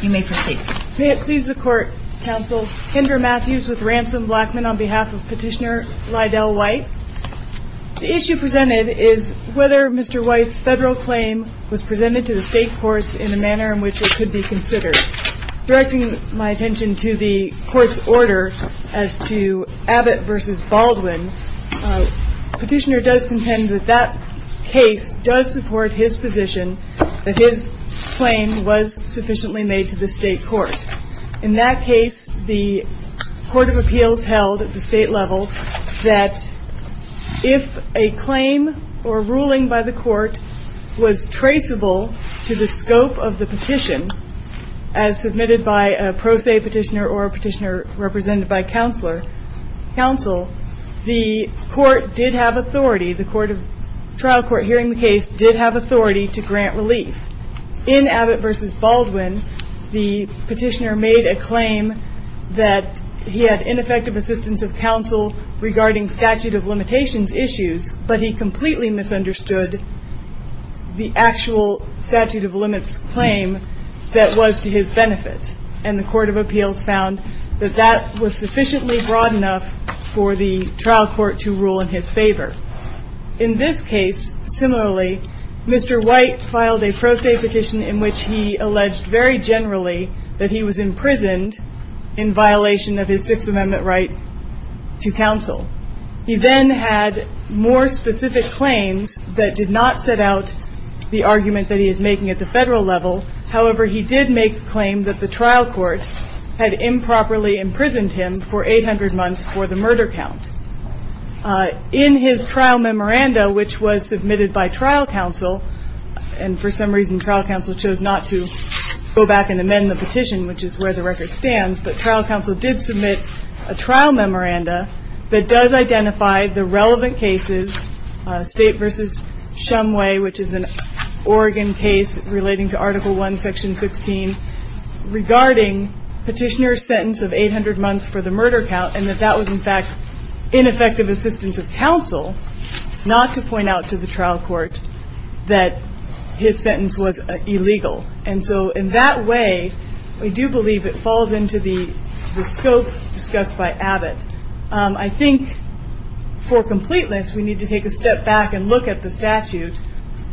May it please the Court, Counsel, Kendra Matthews with Ransom Blackman on behalf of Petitioner Lydell White. The issue presented is whether Mr. White's federal claim was presented to the Court's order as to Abbott v. Baldwin. Petitioner does contend that that case does support his position that his claim was sufficiently made to the State Court. In that case, the Court of Appeals held at the State level that if a claim or ruling by the Court was traceable to the scope of the petition, as submitted by a pro se petitioner or a petitioner represented by counsel, the court did have authority, the trial court hearing the case did have authority to grant relief. In Abbott v. Baldwin, the petitioner made a claim that he had ineffective assistance of counsel regarding statute of limitations issues, but he completely misunderstood the actual statute of limits claim that was to his benefit. And the Court of Appeals found that that was sufficiently broad enough for the trial court to rule in his favor. In this case, similarly, Mr. White filed a pro se petition in which he alleged very generally that he was imprisoned in violation of his Sixth Amendment right to counsel. He then had more specific claims that did not set out the argument that he is making at the federal level. However, he did make the claim that the trial court had improperly imprisoned him for 800 months for the murder count. In his trial memoranda, which was submitted by trial counsel, and for some reason trial counsel chose not to go back and amend the petition, which is where the record stands, but trial counsel did submit a trial memoranda that does identify the relevant cases, State v. Shumway, which is an Oregon case relating to Article I, Section 16, regarding petitioner's sentence of 800 months for the murder count and that that was, in fact, ineffective assistance of counsel not to point out to the trial court that his sentence was illegal. And so in that way, we do believe it falls into the scope discussed by Abbott. I think for completeness, we need to take a step back and look at the statute,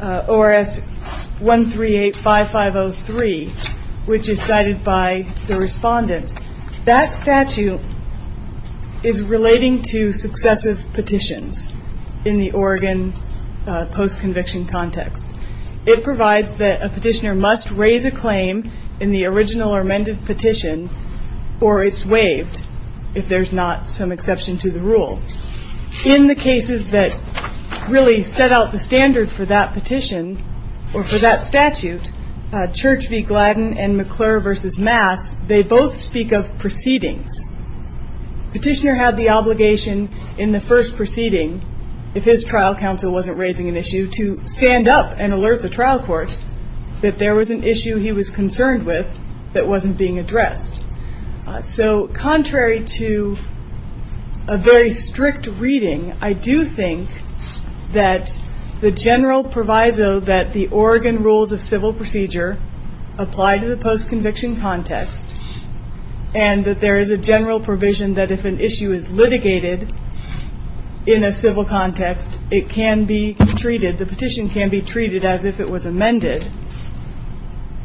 ORS 1385503, which is cited by the respondent. That statute is relating to successive petitions in the Oregon post-conviction context. It provides that a petitioner must raise a petition, if there's not some exception to the rule. In the cases that really set out the standard for that petition, or for that statute, Church v. Gladden and McClure v. Mass, they both speak of proceedings. Petitioner had the obligation in the first proceeding, if his trial counsel wasn't raising an issue, to stand up and alert the trial court that there was an issue he was concerned with that wasn't being addressed. So contrary to a very strict reading, I do think that the general proviso that the Oregon rules of civil procedure apply to the post-conviction context, and that there is a general provision that if an issue is litigated in a civil context, it can be treated, the petition can be treated as if it was amended,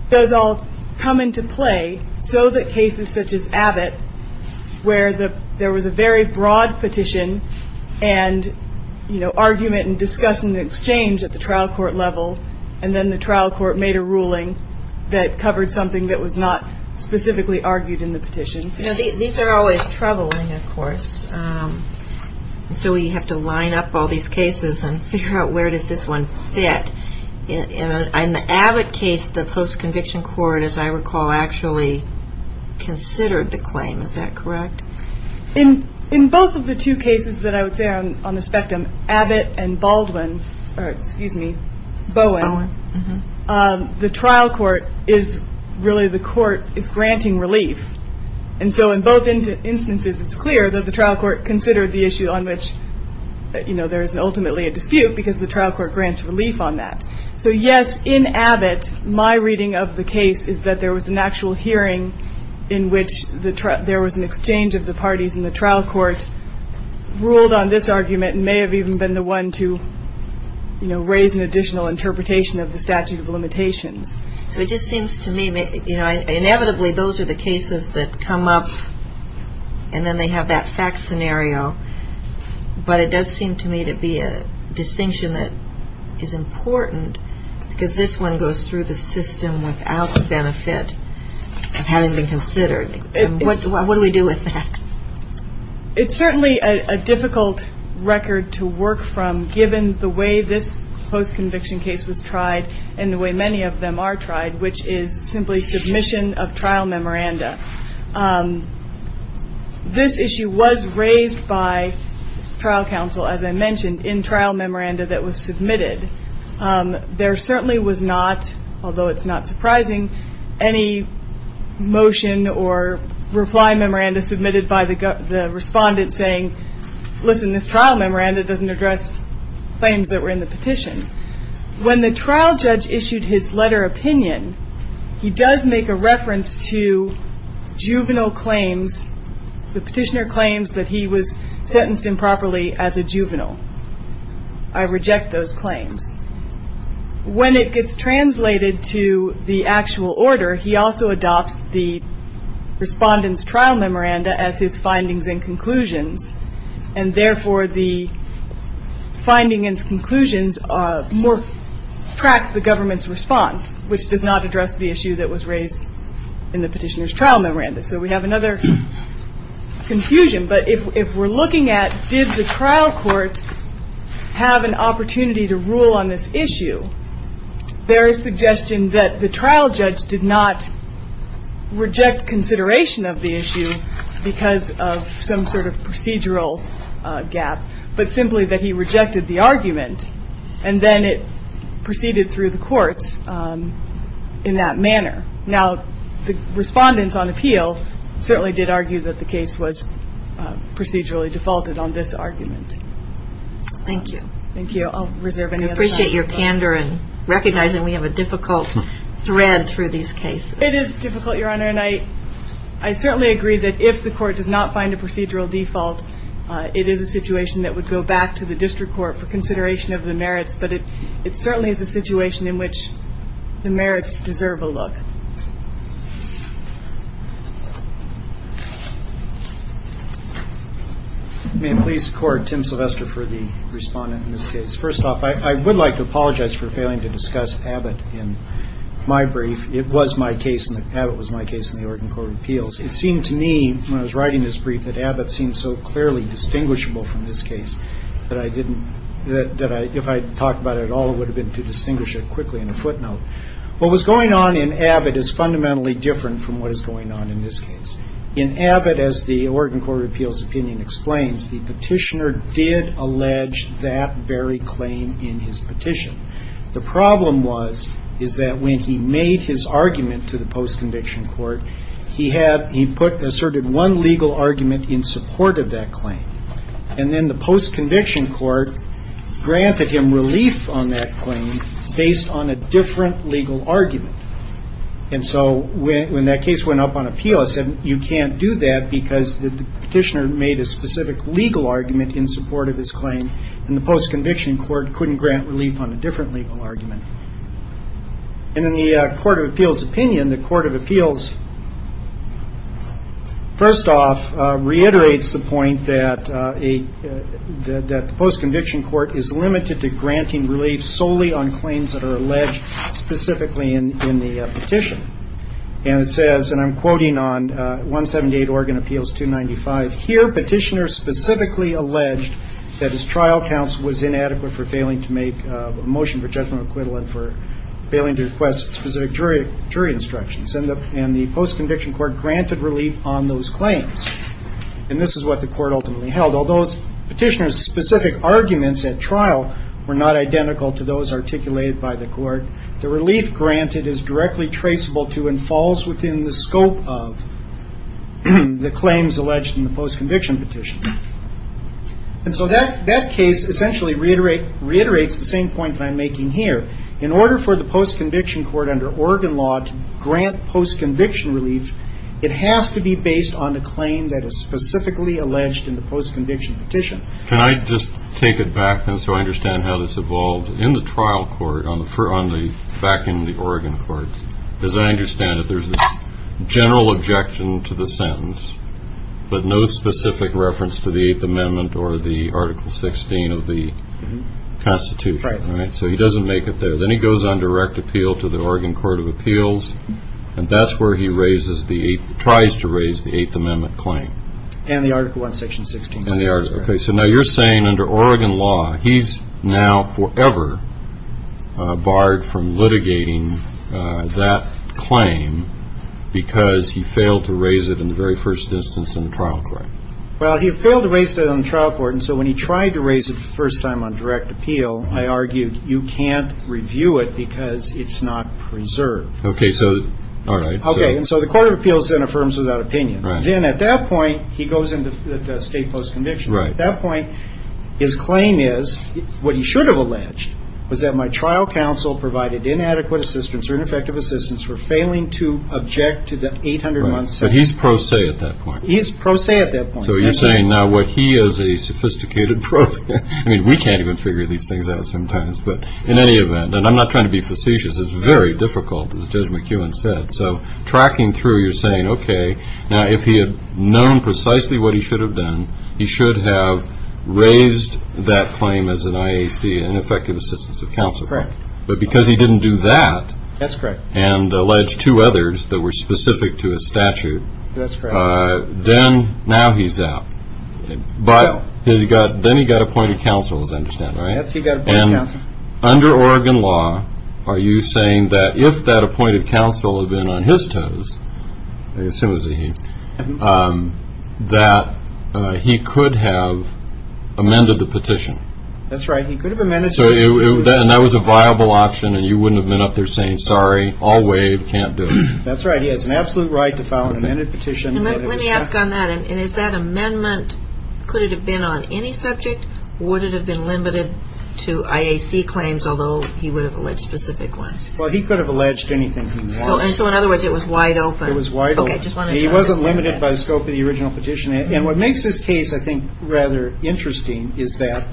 does all come into play so that cases such as Abbott, where there was a very broad petition and argument and discussion and exchange at the trial court level, and then the trial court made a ruling that covered something that was not specifically argued in the petition. These are always troubling, of course. So we have to line up all these cases and figure out where does this one fit. In the Abbott case, the post-conviction court, as I recall, actually considered the claim. Is that correct? In both of the two cases that I would say are on the spectrum, Abbott and Baldwin, or excuse me, Bowen, the trial court is really the court is granting relief. And so in both instances it's clear that the trial court considered the issue on which there is ultimately a dispute because the trial court grants relief on that. So yes, in Abbott, my reading of the case is that there was an actual hearing in which there was an exchange of the parties in the trial court, ruled on this argument, and may have even been the one to raise an additional interpretation of the statute of limitations. So it just seems to me, inevitably those are the cases that come up and then they have that fact scenario. But it does seem to me to be a distinction that is important because this one goes through the system without the benefit of having been considered. What do we do with that? It's certainly a difficult record to work from given the way this post-conviction case was tried and the way many of them are tried, which is simply submission of trial memoranda. This issue was raised by trial counsel, as I mentioned, in trial memoranda that was submitted. There certainly was not, although it's not surprising, any motion or reply memoranda submitted by the respondent saying, listen, this trial memoranda doesn't address claims that were in the petition. When the trial judge issued his letter opinion, he does make a reference to juvenile claims, the petitioner claims that he was sentenced improperly as a juvenile. I reject those claims. When it gets translated to the actual order, he also adopts the respondent's trial memoranda as his findings and conclusions, and therefore the findings and conclusions track the government's response, which does not address the issue that was raised in the petitioner's trial memoranda. So we have another confusion, but if we're looking at did the trial court have an opportunity to rule on this issue, there is suggestion that the trial judge did not reject consideration of the issue because of some sort of procedural gap, but simply that he rejected the argument, and then it proceeded through the courts in that manner. Now, the respondents on appeal certainly did argue that the case was procedurally defaulted on this argument. Thank you. Thank you. I'll reserve any other time. I appreciate your candor and recognizing we have a difficult thread through these cases. It is difficult, Your Honor, and I certainly agree that if the court does not find a procedural default, it is a situation that would go back to the district court for consideration of the merits, but it certainly is a situation in which the merits deserve a look. May it please the Court, Tim Sylvester for the respondent in this case. First off, I would like to point out that in this case, it seems to me when I was writing this brief that Abbott seemed so clearly distinguishable from this case that I didn't, that if I talked about it at all, it would have been to distinguish it quickly in a footnote. What was going on in Abbott is fundamentally different from what is going on in this case. In Abbott, as the Oregon Court of Appeals opinion explains, the petitioner did allege that very claim in his petition. The problem was is that when he made his argument to the post-conviction court, he had, he put, asserted one legal argument in support of that claim. And then the post-conviction court granted him relief on that claim based on a different legal argument. And so when that case went up on appeal, I said you can't do that because the petitioner made a specific legal argument in support of his claim, and the post-conviction court couldn't grant relief on a different legal argument. And in the Court of Appeals opinion, the Court of Appeals, first off, reiterates the point that a, that the post-conviction court is limited to granting relief solely on claims that are alleged specifically in the petition. And it says, and I'm quoting on 178 Oregon Appeals 295, here petitioner specifically alleged that his trial counsel was inadequate for failing to make a motion for judgment of acquittal and for failing to request specific jury instructions. And the post-conviction court granted relief on those claims. And this is what the court ultimately held. Although the petitioner's specific arguments at trial were not identical to those articulated by the court, the relief granted is directly traceable to and falls within the scope of the claims alleged in the post-conviction petition. And so that, that case essentially reiterate, reiterates the same point that I'm making here. In order for the post-conviction court under Oregon law to grant post-conviction relief, it has to be based on a claim that is specifically alleged in the post-conviction petition. Can I just take it back, then, so I understand how this evolved in the trial court on the first, on the, back in the Oregon courts? Because I understand that there's a general objection to the sentence, but no specific reference to the Eighth Amendment or the Article 16 of the Constitution, right? So he doesn't make it there. Then he goes on direct appeal to the Oregon Court of Appeals, and that's where he raises the Eighth, tries to raise the Eighth Amendment claim. And the Article 1, Section 16. And the Article, okay. So now you're saying under Oregon law, he's now forever barred from litigating that claim because he failed to raise it in the very first instance in the trial court. Well, he failed to raise it on the trial court, and so when he tried to raise it the first time on direct appeal, I argued, you can't review it because it's not preserved. Okay, so, all right. Okay, and so the Court of Appeals then affirms without opinion. Right. Then at that point, he goes into state post-conviction. Right. And at that point, his claim is, what he should have alleged, was that my trial counsel provided inadequate assistance or ineffective assistance for failing to object to the 800 month statute. Right, so he's pro se at that point. He's pro se at that point. So you're saying now what he is a sophisticated pro, I mean, we can't even figure these things out sometimes, but in any event, and I'm not trying to be facetious, it's very difficult as Judge McEwen said. So tracking through, you're saying, okay, now if he had known precisely what he should have done, he should have raised that claim as an IAC, an ineffective assistance of counsel. Correct. But because he didn't do that. That's correct. And alleged two others that were specific to his statute. That's correct. Then, now he's out. Vile. Then he got appointed counsel, as I understand it, right? Yes, he got appointed counsel. Under Oregon law, are you saying that if that appointed counsel had been on his toes, I that he could have amended the petition? That's right. He could have amended the petition. So that was a viable option, and you wouldn't have been up there saying, sorry, I'll waive, can't do it. That's right. He has an absolute right to file an amended petition. Let me ask on that, and is that amendment, could it have been on any subject? Would it have been limited to IAC claims, although he would have alleged specific ones? Well, he could have alleged anything he wanted. So in other words, it was wide open. It was wide open. Okay, just wanted to clarify that. He wasn't limited by the scope of the original petition. And what makes this case, I think, rather interesting is that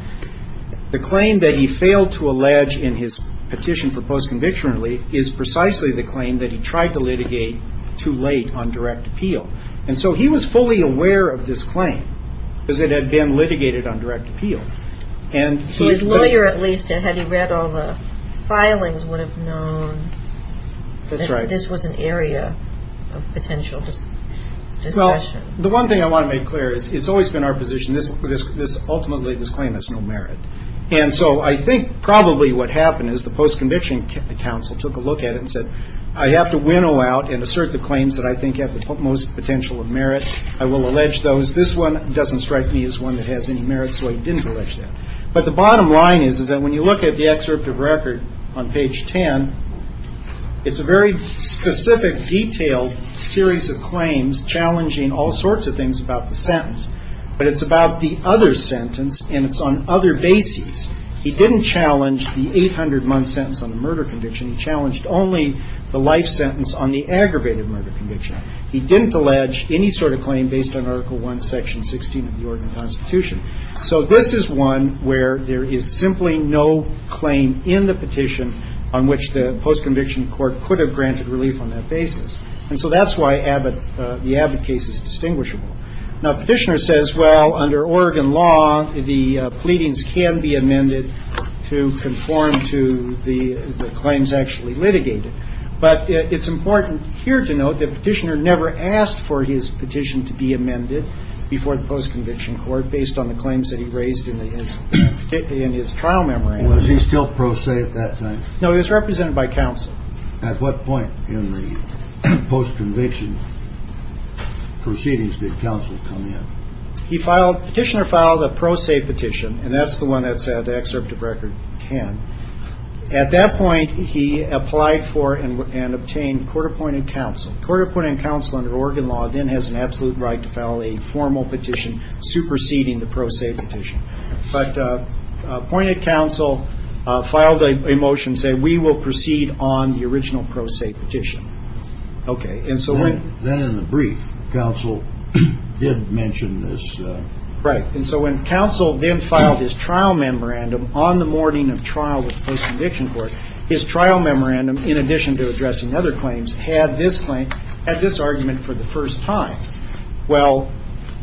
the claim that he failed to allege in his petition for post-conviction relief is precisely the claim that he tried to litigate too late on direct appeal. And so he was fully aware of this claim, because it had been litigated on direct appeal. To his lawyer, at least, had he read all the filings, would have known that this was an Well, the one thing I want to make clear is, it's always been our position, ultimately, this claim has no merit. And so I think probably what happened is the post-conviction counsel took a look at it and said, I have to winnow out and assert the claims that I think have the most potential of merit. I will allege those. This one doesn't strike me as one that has any merit, so I didn't allege that. But the bottom line is, is that when you look at the excerpt of record on page 10, it's a very specific, detailed series of claims challenging all sorts of things about the sentence. But it's about the other sentence, and it's on other bases. He didn't challenge the 800-month sentence on the murder conviction, he challenged only the life sentence on the aggravated murder conviction. He didn't allege any sort of claim based on Article I, Section 16 of the Oregon Constitution. So this is one where there is simply no claim in the petition on which the post-conviction court could have granted relief on that basis. And so that's why Abbott, the Abbott case is distinguishable. Now, Petitioner says, well, under Oregon law, the pleadings can be amended to conform to the claims actually litigated. But it's important here to note that Petitioner never asked for his petition to be amended before the post-conviction court based on the claims that he raised in his trial memory. Was he still pro se at that time? No, he was represented by counsel. At what point in the post-conviction proceedings did counsel come in? He filed, Petitioner filed a pro se petition, and that's the one that's at the excerpt of record 10. At that point, he applied for and obtained court-appointed counsel. Court-appointed counsel under Oregon law then has an absolute right to file a formal petition superseding the pro se petition. But appointed counsel filed a motion saying, we will proceed on the original pro se petition. Okay, and so when- Then in the brief, counsel did mention this. Right, and so when counsel then filed his trial memorandum on the morning of trial with the post-conviction court, his trial memorandum, in addition to addressing other claims, had this argument for the first time. Well,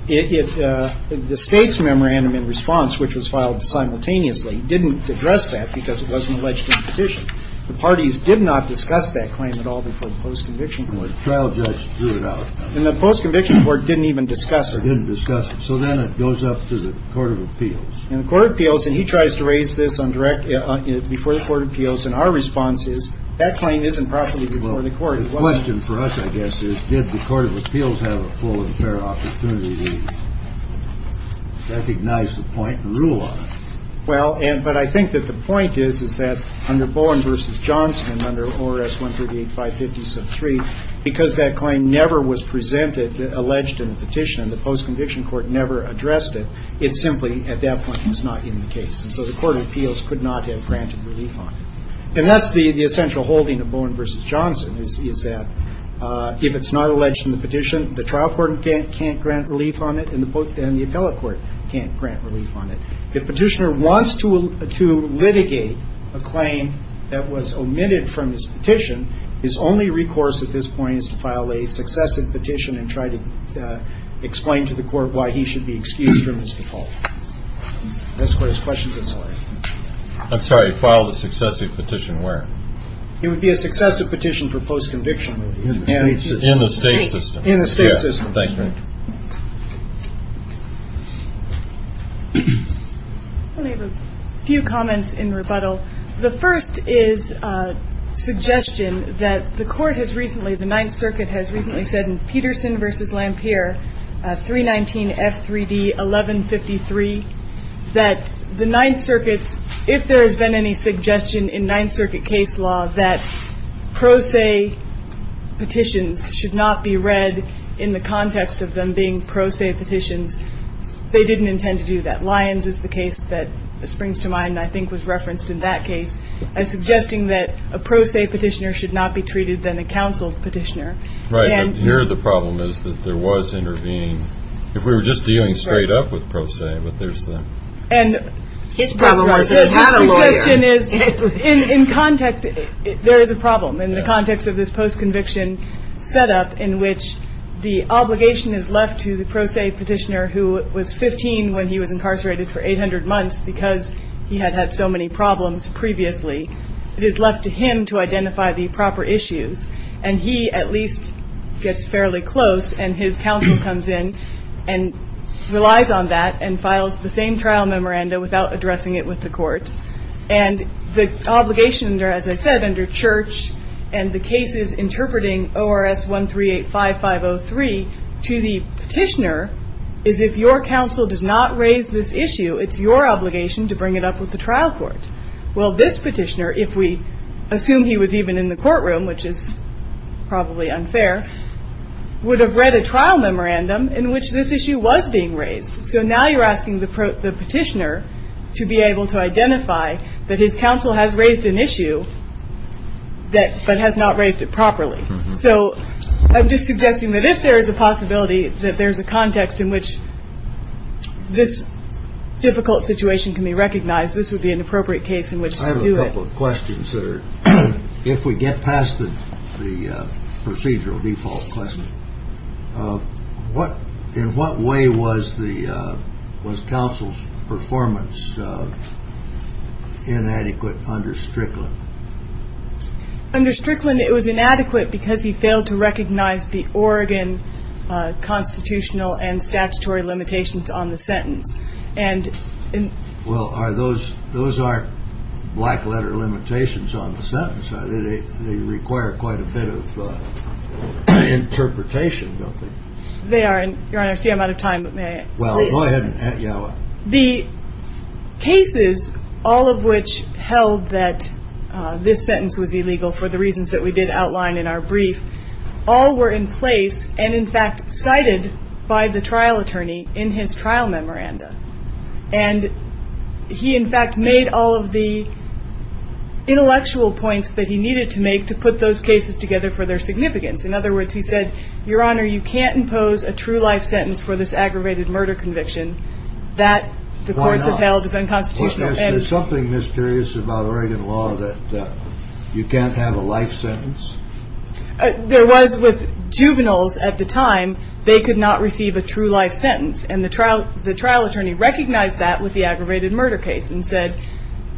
the state's memorandum in response, which was filed simultaneously, didn't address that because it wasn't alleged in the petition. The parties did not discuss that claim at all before the post-conviction court. The trial judge threw it out. And the post-conviction court didn't even discuss it. They didn't discuss it. So then it goes up to the court of appeals. And the court of appeals, and he tries to raise this before the court of appeals, and our response is, that claim isn't properly before the court. The question for us, I guess, is, did the court of appeals have a full and fair opportunity to recognize the point and rule on it? Well, but I think that the point is, is that under Bowen v. Johnson, under ORS 138550 sub 3, because that claim never was presented, alleged in the petition, and the post-conviction court never addressed it, it simply, at that point, was not in the case. And so the court of appeals could not have granted relief on it. And that's the essential holding of Bowen v. Johnson, is that if it's not alleged in the petition, the trial court can't grant relief on it, and the appellate court can't grant relief on it. If Petitioner wants to litigate a claim that was omitted from his petition, his only recourse at this point is to file a successive petition and try to explain to the court why he should be excused from his default. That's what his questions are. I'm sorry, file a successive petition where? It would be a successive petition for post-conviction. In the state system. In the state system. Thank you. I have a few comments in rebuttal. The first is a suggestion that the court has recently, the Ninth Circuit has recently said in Peterson v. Lampere, 319 F3D 1153, that the Ninth Circuit's, if there has been any suggestion in Ninth Circuit case law that pro se petitions should not be read in the context of them being pro se petitions, they didn't intend to do that. Lyons is the case that springs to mind, and I think was referenced in that case, as suggesting that a pro se petitioner should not be treated than a counseled petitioner. Right, but here the problem is that there was intervening, if we were just dealing straight up with pro se, but there's the. And. His problem was that he had a lawyer. In context, there is a problem in the context of this post-conviction set up in which the obligation is left to the pro se petitioner who was 15 when he was incarcerated for 800 months because he had had so many problems previously, it is left to him to identify the proper issues. And he, at least, gets fairly close and his counsel comes in and relies on that and files the same trial memoranda without addressing it with the court, and the obligation, as I said, under church and the cases interpreting ORS 1385503 to the petitioner is if your counsel does not raise this issue, it's your obligation to bring it up with the trial court. Well, this petitioner, if we assume he was even in the courtroom, which is probably unfair, would have read a trial memorandum in which this issue was being raised, so now you're asking the petitioner to be able to identify that his counsel has raised an issue, but has not raised it properly. So I'm just suggesting that if there is a possibility that there's a context in which this difficult situation can be recognized, this would be an appropriate case in which to do it. I have a couple of questions that are, if we get past the procedural default question, in what way was counsel's performance inadequate under Strickland? Under Strickland, it was inadequate because he failed to recognize the Oregon constitutional and statutory limitations on the sentence. And in- Well, are those, those aren't black letter limitations on the sentence, I think they require quite a bit of interpretation, don't they? They are, and Your Honor, I see I'm out of time, but may I- Well, go ahead and, yeah. The cases, all of which held that this sentence was illegal for the reasons that we did outline in our brief, all were in place and in fact cited by the trial attorney in his trial memoranda. And he, in fact, made all of the intellectual points that he needed to make to put those cases together for their significance. In other words, he said, Your Honor, you can't impose a true life sentence for this aggravated murder conviction that the courts have held as unconstitutional. And- Why not? Was there something mysterious about Oregon law that you can't have a life sentence? There was with juveniles at the time. They could not receive a true life sentence. And the trial attorney recognized that with the aggravated murder case and said,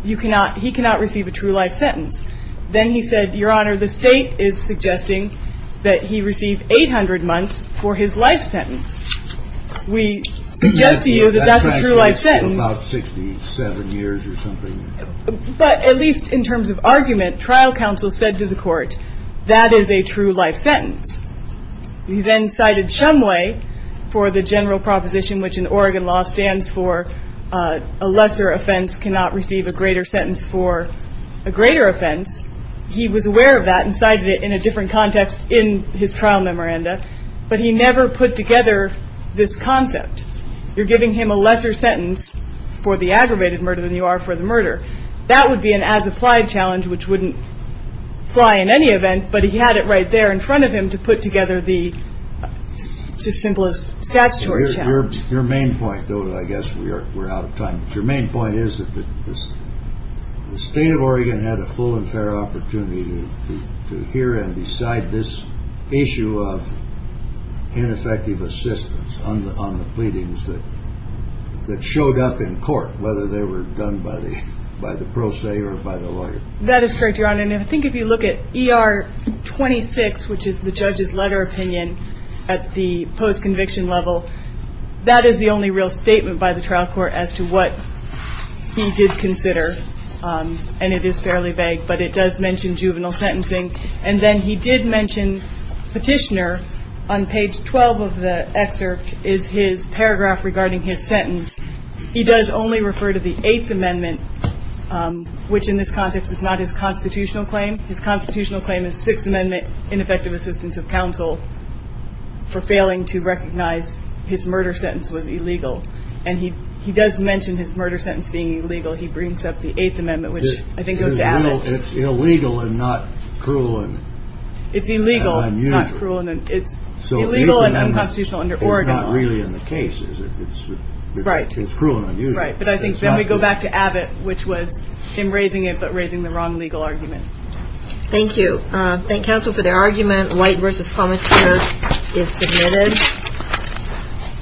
you cannot, he cannot receive a true life sentence. Then he said, Your Honor, the state is suggesting that he receive 800 months for his life sentence. We suggest to you that that's a true life sentence. About 67 years or something. But at least in terms of argument, trial counsel said to the court, that is a true life sentence. He then cited Shumway for the general proposition which in Oregon law stands for a lesser offense cannot receive a greater sentence for a greater offense. He was aware of that and cited it in a different context in his trial memoranda. But he never put together this concept. You're giving him a lesser sentence for the aggravated murder than you are for the murder. That would be an as applied challenge which wouldn't fly in any event. But he had it right there in front of him to put together the simplest statutory challenge. Your main point, though, I guess we're out of time. Your main point is that the state of Oregon had a full and fair opportunity to hear and decide this issue of ineffective assistance on the pleadings that showed up in court, whether they were done by the pro se or by the lawyer. That is correct, Your Honor. And I think if you look at ER 26, which is the judge's letter opinion at the post conviction level, that is the only real statement by the trial court as to what he did consider. And it is fairly vague, but it does mention juvenile sentencing. And then he did mention Petitioner on page 12 of the excerpt is his paragraph regarding his sentence. He does only refer to the Eighth Amendment, which in this context is not his constitutional claim. His constitutional claim is Sixth Amendment, ineffective assistance of counsel for failing to recognize his murder sentence was illegal. And he does mention his murder sentence being illegal. He brings up the Eighth Amendment, which I think goes to add. It's illegal and not cruel and unusual. It's illegal and not cruel and it's illegal and unconstitutional under Oregon. It's not really in the case, is it? Right. It's cruel and unusual. Right. But I think then we go back to Abbott, which was him raising it, but raising the wrong legal argument. Thank you. Thank counsel for their argument. White versus Plummer is submitted.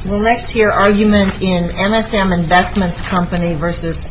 We'll next hear argument in MSM Investments Company versus Carolwood Corporation.